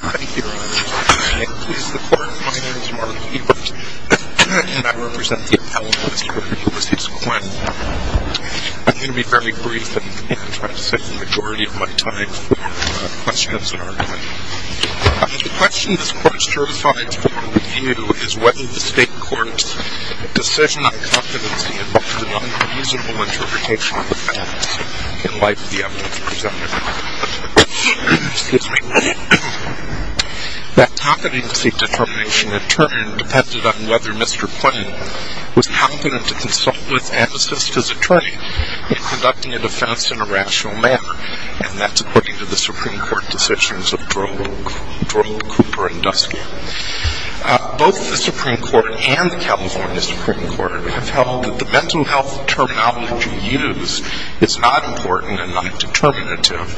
I'm going to be very brief and try to save the majority of my time for questions and argument. The question this court certifies for review is whether the state court's decision on competency determination depended on whether Mr. Cuen was confident to consult with Amnesty's attorney in conducting a defense in a rational manner, and that's according to the Supreme Court decisions of Droll, Cooper, and Dusky. Both the Supreme Court and the California Supreme Court have held that the mental health terminology used is not important and not determinative,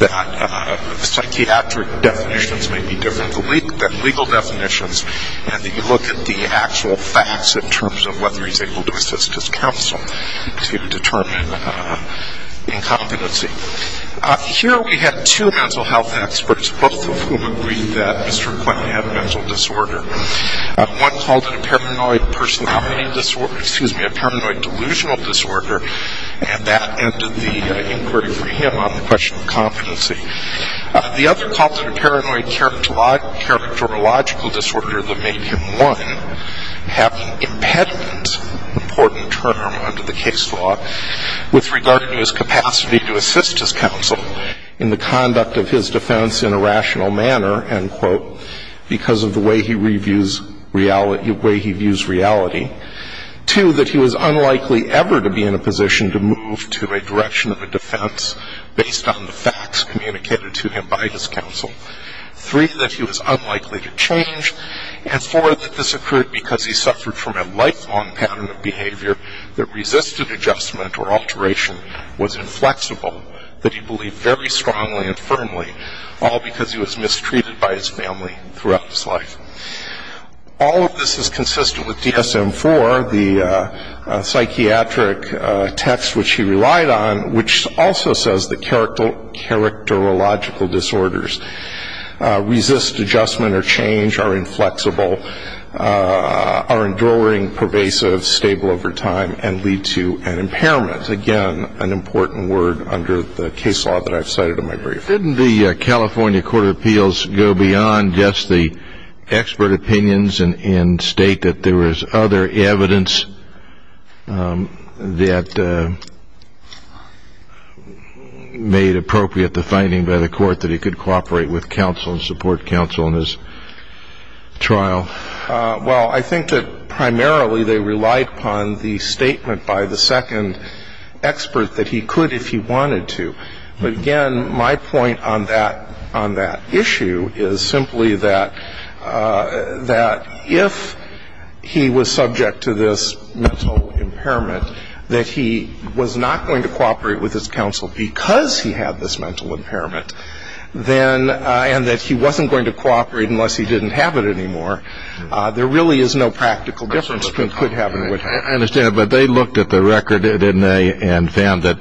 that psychiatric definitions may be different than legal definitions, and that you look at the actual facts in terms of whether he's able to assist his counsel to determine incompetency. Here we have two mental health experts, both of whom agree that Mr. Cuen had a mental disorder. One called it a paranoid personality disorder, excuse me, a paranoid delusional disorder, and that ended the inquiry for him on the question of competency. The other called it a paranoid characterological disorder that made him one, having impediments, important term under the case law, with regard to his capacity to assist his counsel in the conduct of his defense in a rational manner, end quote, because of the way he reviews reality, the way he views reality. Two, that he was unlikely ever to be in a position to move to a direction of a defense based on the facts communicated to him by his counsel. Three, that he was unlikely to change. And four, that this occurred because he suffered from a lifelong pattern of behavior that resisted adjustment or alteration, was inflexible, that he believed very strongly and firmly, all because he was mistreated by his family throughout his life. All of this is consistent with DSM-IV, the psychiatric text which he relied on, which also says that characterological disorders resist adjustment or change, which are inflexible, are enduring, pervasive, stable over time, and lead to an impairment. Again, an important word under the case law that I've cited in my brief. Didn't the California Court of Appeals go beyond just the expert opinions and state that there was other evidence that made appropriate the finding by the court that he could cooperate with counsel and support counsel in his trial? Well, I think that primarily they relied upon the statement by the second expert that he could if he wanted to. But again, my point on that issue is simply that if he was subject to this mental impairment, that he was not going to cooperate with his counsel because he had this mental impairment, and that he wasn't going to cooperate unless he didn't have it anymore, there really is no practical difference between could have it and would have it. I understand. But they looked at the record, didn't they, and found that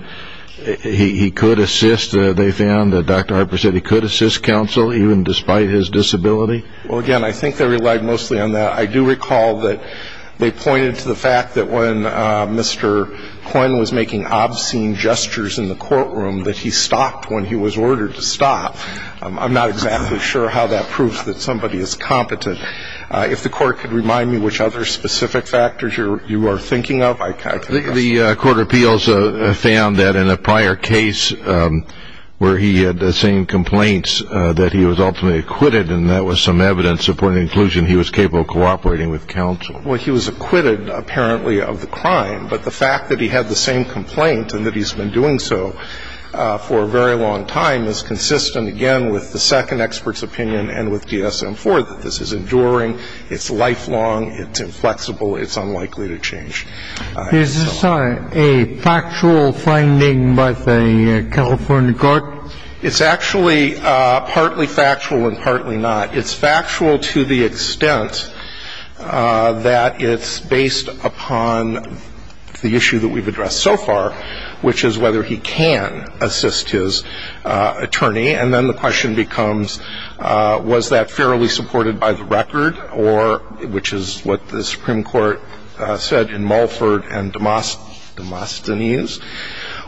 he could assist. They found that Dr. Harper said he could assist counsel even despite his disability. Well, again, I think they relied mostly on that. I do recall that they pointed to the fact that when Mr. Coyne was making obscene gestures in the courtroom, that he stopped when he was ordered to stop. I'm not exactly sure how that proves that somebody is competent. If the Court could remind me which other specific factors you are thinking of. The Court of Appeals found that in a prior case where he had the same complaints that he was ultimately acquitted, and that was some evidence supporting inclusion, he was capable of cooperating with counsel. Well, he was acquitted, apparently, of the crime, but the fact that he had the same complaint and that he's been doing so for a very long time is consistent, again, with the second expert's opinion and with DSM-IV, that this is enduring, it's lifelong, it's inflexible, it's unlikely to change. Is this a factual finding by the California court? It's actually partly factual and partly not. It's factual to the extent that it's based upon the issue that we've addressed so far, which is whether he can assist his attorney. And then the question becomes was that fairly supported by the record, or which is what the Supreme Court said in Mulford and Demosthenes,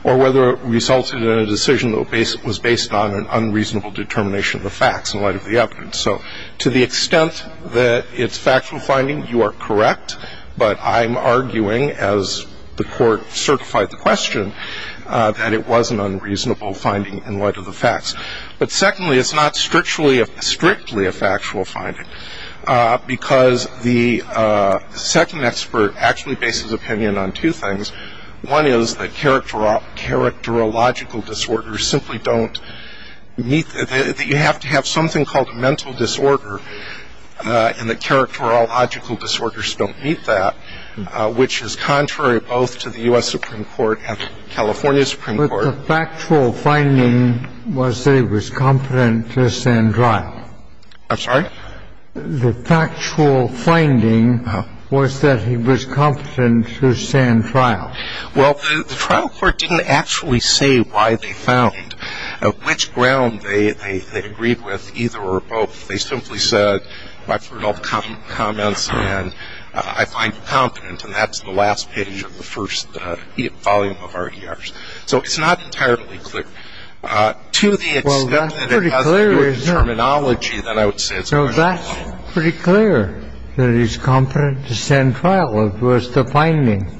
or whether it resulted in a decision that was based on an unreasonable determination of the facts in light of the evidence. So to the extent that it's factual finding, you are correct. But I'm arguing, as the court certified the question, that it was an unreasonable finding in light of the facts. But secondly, it's not strictly a factual finding, because the second expert actually bases opinion on two things. One is that characterological disorders simply don't meet, that you have to have something called a mental disorder and that characterological disorders don't meet that, which is contrary both to the U.S. Supreme Court and California Supreme Court. But the factual finding was that he was competent to stand trial. I'm sorry? The factual finding was that he was competent to stand trial. Well, the trial court didn't actually say why they found, which ground they agreed with, either or both. They simply said, I've heard all the comments, and I find you competent. And that's the last page of the first volume of RDRs. So it's not entirely clear. Well, that's pretty clear, isn't it? No, that's pretty clear that he's competent to stand trial as far as the finding.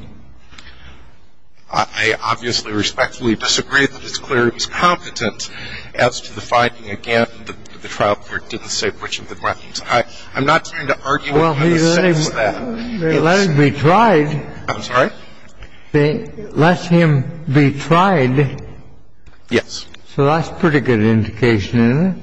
I obviously respectfully disagree that it's clear he's competent as to the finding. Again, the trial court didn't say which of the grounds. I'm not trying to argue in any sense with that. Well, they let him be tried. I'm sorry? They let him be tried. So that's pretty good indication, isn't it?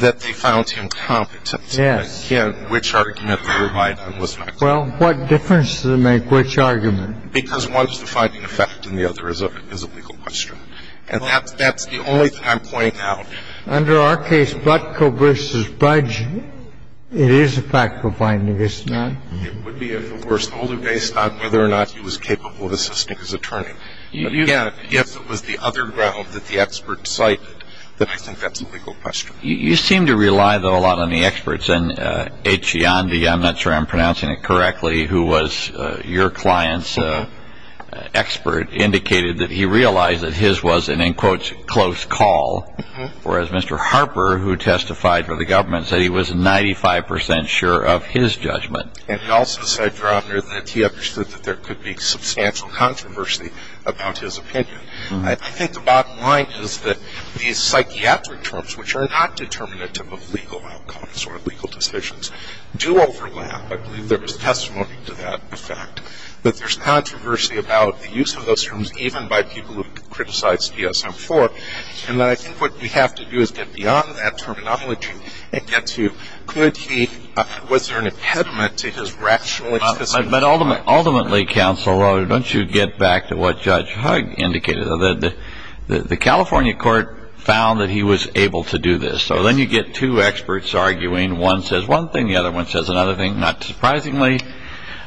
That they found him competent. Yes. Again, which argument would provide on which fact? Well, what difference does it make which argument? Because one is the finding of fact, and the other is a legal question. And that's the only thing I'm pointing out. Under our case, Butko v. Budge, it is a factual finding, isn't it? It would be, of course, only based on whether or not he was capable of assisting his attorney. If it was the other ground that the expert cited, then I think that's a legal question. You seem to rely, though, a lot on the experts. And Etchiandy, I'm not sure I'm pronouncing it correctly, who was your client's expert, indicated that he realized that his was an, in quotes, close call, whereas Mr. Harper, who testified for the government, said he was 95% sure of his judgment. And he also said, rather, that he understood that there could be substantial controversy about his opinion. I think the bottom line is that these psychiatric terms, which are not determinative of legal outcomes or legal decisions, do overlap. I believe there was testimony to that effect. But there's controversy about the use of those terms, even by people who criticize DSM-IV. And I think what we have to do is get beyond that terminology and get to, was there an impediment to his rational existence? But ultimately, counsel, don't you get back to what Judge Hugg indicated? The California court found that he was able to do this. So then you get two experts arguing. One says one thing, the other one says another thing, not surprisingly.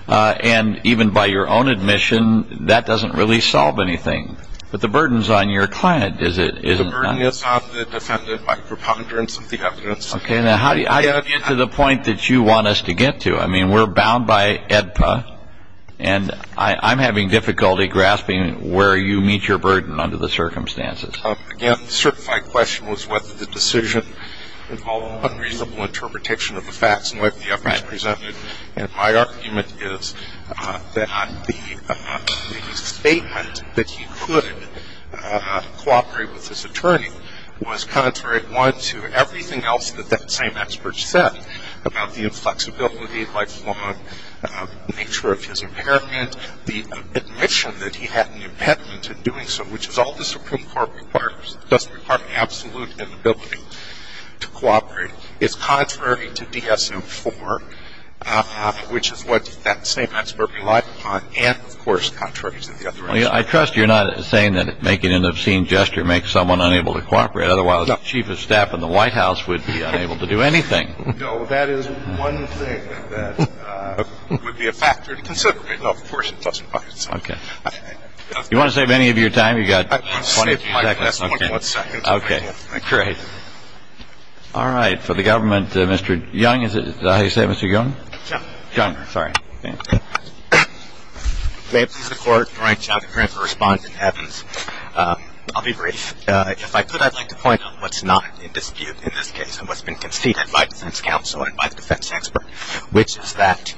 And even by your own admission, that doesn't really solve anything. But the burden is on your client, is it not? The burden is on the defendant by preponderance of the evidence. Okay. Now, how do you get to the point that you want us to get to? I mean, we're bound by AEDPA, and I'm having difficulty grasping where you meet your burden under the circumstances. Again, the certified question was whether the decision involved unreasonable interpretation of the facts and whether the evidence was presumptive. And my argument is that the statement that he couldn't cooperate with his attorney was contrary, one, to everything else that that same expert said about the inflexibility, lifelong nature of his impairment, the admission that he had an impediment to doing so, which is all the Supreme Court requires. It does require absolute inability to cooperate. It's contrary to DSM-IV, which is what that same expert relied upon, and, of course, contrary to the other experts. I trust you're not saying that making an obscene gesture makes someone unable to cooperate. Otherwise, the chief of staff in the White House would be unable to do anything. No. That is one thing that would be a factor to consider. Of course, it does. Okay. Do you want to save any of your time? You've got 20 seconds. Okay. Great. All right. For the government, Mr. Young, is that how you say it, Mr. Young? Young. Young. Sorry. May it please the Court, Your Honor, I have a question for Respondent Evans. I'll be brief. If I could, I'd like to point out what's not in dispute in this case and what's been conceded by defense counsel and by the defense expert, which is that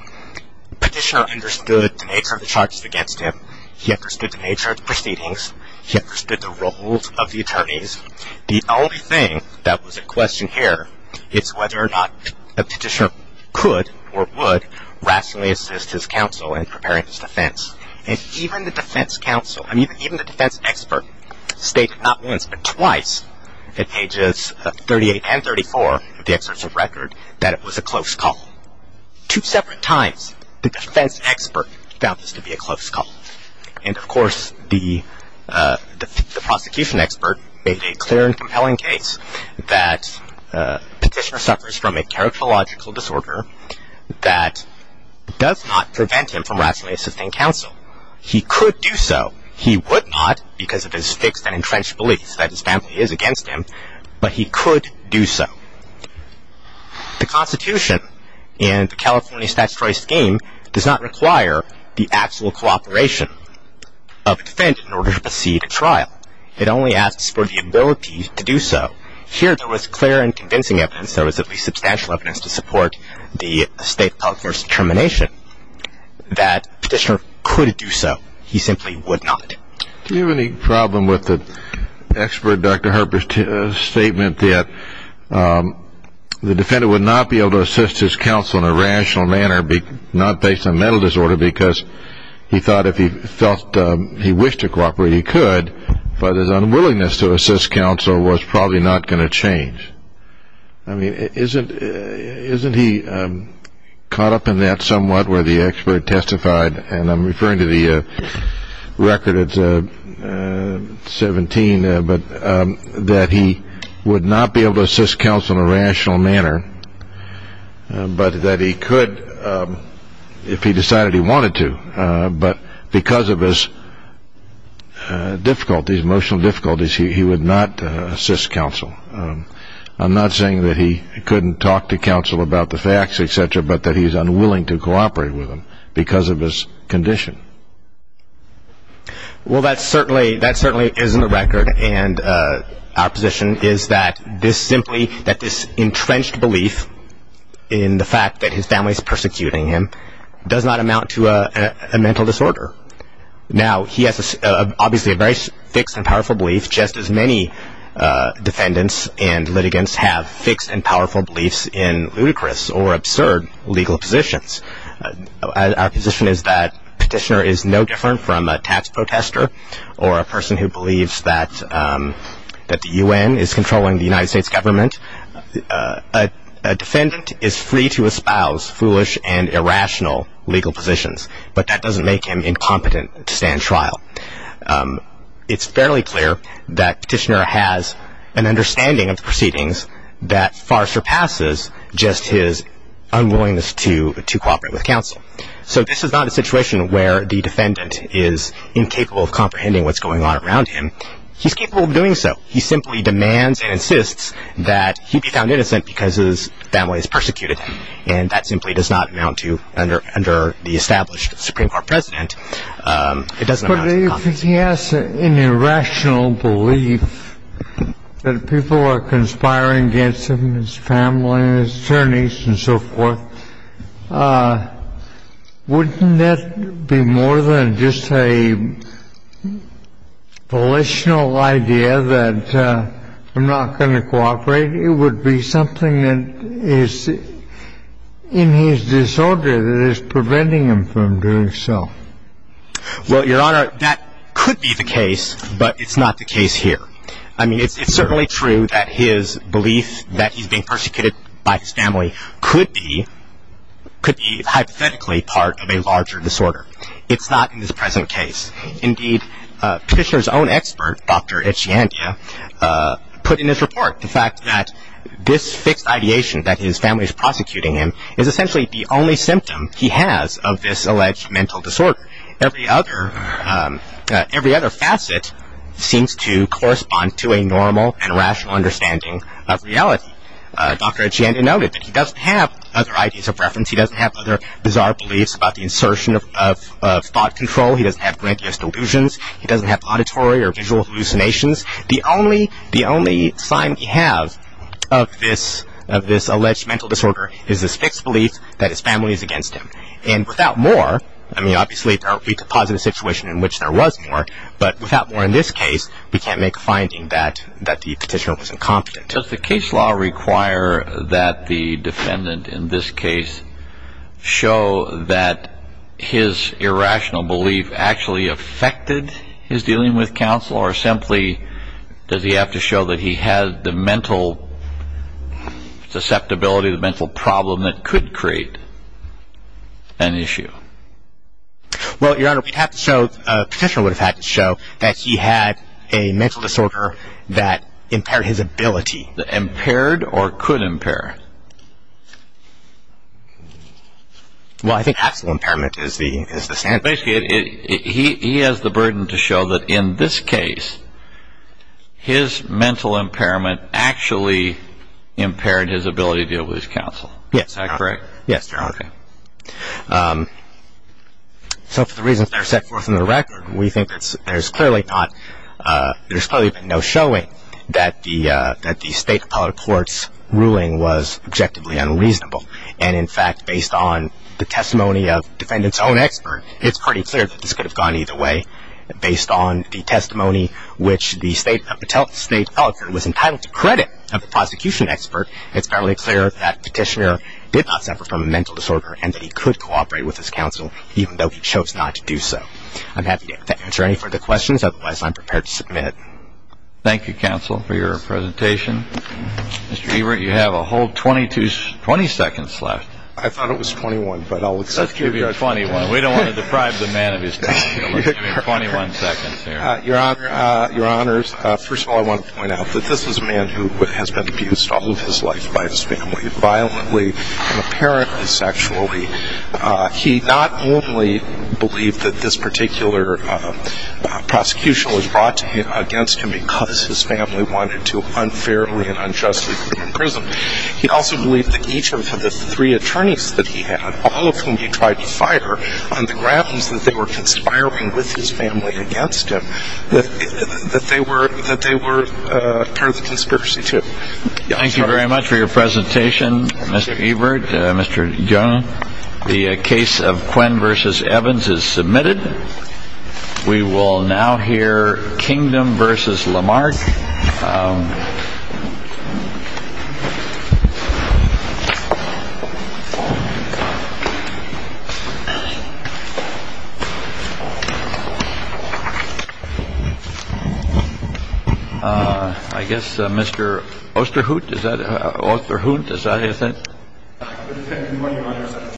Petitioner understood the nature of the charges against him. He understood the nature of the proceedings. He understood the roles of the attorneys. The only thing that was in question here is whether or not Petitioner could or would rationally assist his counsel in preparing his defense. And even the defense counsel, I mean even the defense expert, stated not once but twice in pages 38 and 34 of the excerpts of record that it was a close call. Two separate times the defense expert found this to be a close call. And, of course, the prosecution expert made a clear and compelling case that Petitioner suffers from a characterological disorder that does not prevent him from rationally assisting counsel. He could do so. He would not because it is fixed and entrenched belief that his family is against him, but he could do so. The Constitution and the California statutory scheme does not require the actual cooperation of a defense in order to proceed a trial. It only asks for the ability to do so. Here there was clear and convincing evidence, there was at least substantial evidence to support the state public court's determination, that Petitioner could do so. He simply would not. Do you have any problem with the expert Dr. Harper's statement that the defendant would not be able to assist his counsel in a rational manner, not based on mental disorder, because he thought if he felt he wished to cooperate he could, but his unwillingness to assist counsel was probably not going to change? I mean isn't he caught up in that somewhat where the expert testified, and I'm referring to the record, it's 17, that he would not be able to assist counsel in a rational manner, but that he could if he decided he wanted to, but because of his difficulties, emotional difficulties, he would not assist counsel. I'm not saying that he couldn't talk to counsel about the facts, et cetera, but that he's unwilling to cooperate with them because of his condition. Well, that certainly is in the record, and our position is that this simply, that this entrenched belief in the fact that his family is persecuting him does not amount to a mental disorder. Now, he has obviously a very fixed and powerful belief, just as many defendants and litigants have fixed and powerful beliefs in ludicrous or absurd legal positions. Our position is that Petitioner is no different from a tax protester or a person who believes that the U.N. is controlling the United States government. A defendant is free to espouse foolish and irrational legal positions, but that doesn't make him incompetent to stand trial. It's fairly clear that Petitioner has an understanding of the proceedings that far surpasses just his unwillingness to cooperate with counsel. So this is not a situation where the defendant is incapable of comprehending what's going on around him. He's capable of doing so. He simply demands and insists that he be found innocent because his family has persecuted him, and that simply does not amount to, under the established Supreme Court precedent, it doesn't amount to incompetence. But if he has an irrational belief that people are conspiring against him, his family and his attorneys and so forth, wouldn't that be more than just a volitional idea that I'm not going to cooperate? It would be something that is in his disorder that is preventing him from doing so. Well, Your Honor, that could be the case, but it's not the case here. I mean, it's certainly true that his belief that he's being persecuted by his family could be hypothetically part of a larger disorder. It's not in this present case. Indeed, Petitioner's own expert, Dr. Etchiantia, put in his report the fact that this fixed ideation that his family is prosecuting him is essentially the only symptom he has of this alleged mental disorder. Every other facet seems to correspond to a normal and rational understanding of reality. Dr. Etchiantia noted that he doesn't have other ideas of reference. He doesn't have other bizarre beliefs about the insertion of thought control. He doesn't have grandiose delusions. He doesn't have auditory or visual hallucinations. The only sign he has of this alleged mental disorder is this fixed belief that his family is against him. And without more, I mean, obviously we could posit a situation in which there was more, but without more in this case, we can't make a finding that the Petitioner was incompetent. Does the case law require that the defendant in this case show that his irrational belief actually affected his dealing with counsel or simply does he have to show that he had the mental susceptibility, the mental problem that could create an issue? Well, Your Honor, we'd have to show, the Petitioner would have had to show that he had a mental disorder that impaired his ability. Impaired or could impair? Well, I think absolute impairment is the standard. Basically, he has the burden to show that in this case, his mental impairment actually impaired his ability to deal with his counsel. Yes. Is that correct? Yes, Your Honor. Okay. So for the reasons that are set forth in the record, we think there's clearly not, there's probably been no showing that the State Appellate Court's ruling was objectively unreasonable. And, in fact, based on the testimony of the defendant's own expert, it's pretty clear that this could have gone either way. Based on the testimony which the State Appellate Court was entitled to credit of the prosecution expert, it's fairly clear that Petitioner did not suffer from a mental disorder and that he could cooperate with his counsel even though he chose not to do so. I'm happy to answer any further questions. Otherwise, I'm prepared to submit. Thank you, counsel, for your presentation. Mr. Ebert, you have a whole 20 seconds left. I thought it was 21, but I'll accept it. Let's give you 21. We don't want to deprive the man of his time. We'll give you 21 seconds here. Your Honor, first of all, I want to point out that this is a man who has been abused all of his life by his family, violently and apparently sexually. He not only believed that this particular prosecution was brought against him because his family wanted to unfairly and unjustly put him in prison, he also believed that each of the three attorneys that he had, all of whom he tried to fire on the grounds that they were conspiring with his family against him, that they were part of the conspiracy, too. Thank you very much for your presentation, Mr. Ebert, Mr. Jung. The case of Quinn v. Evans is submitted. We will now hear Kingdom v. Lamarck. I guess Mr. Osterhout, is that it?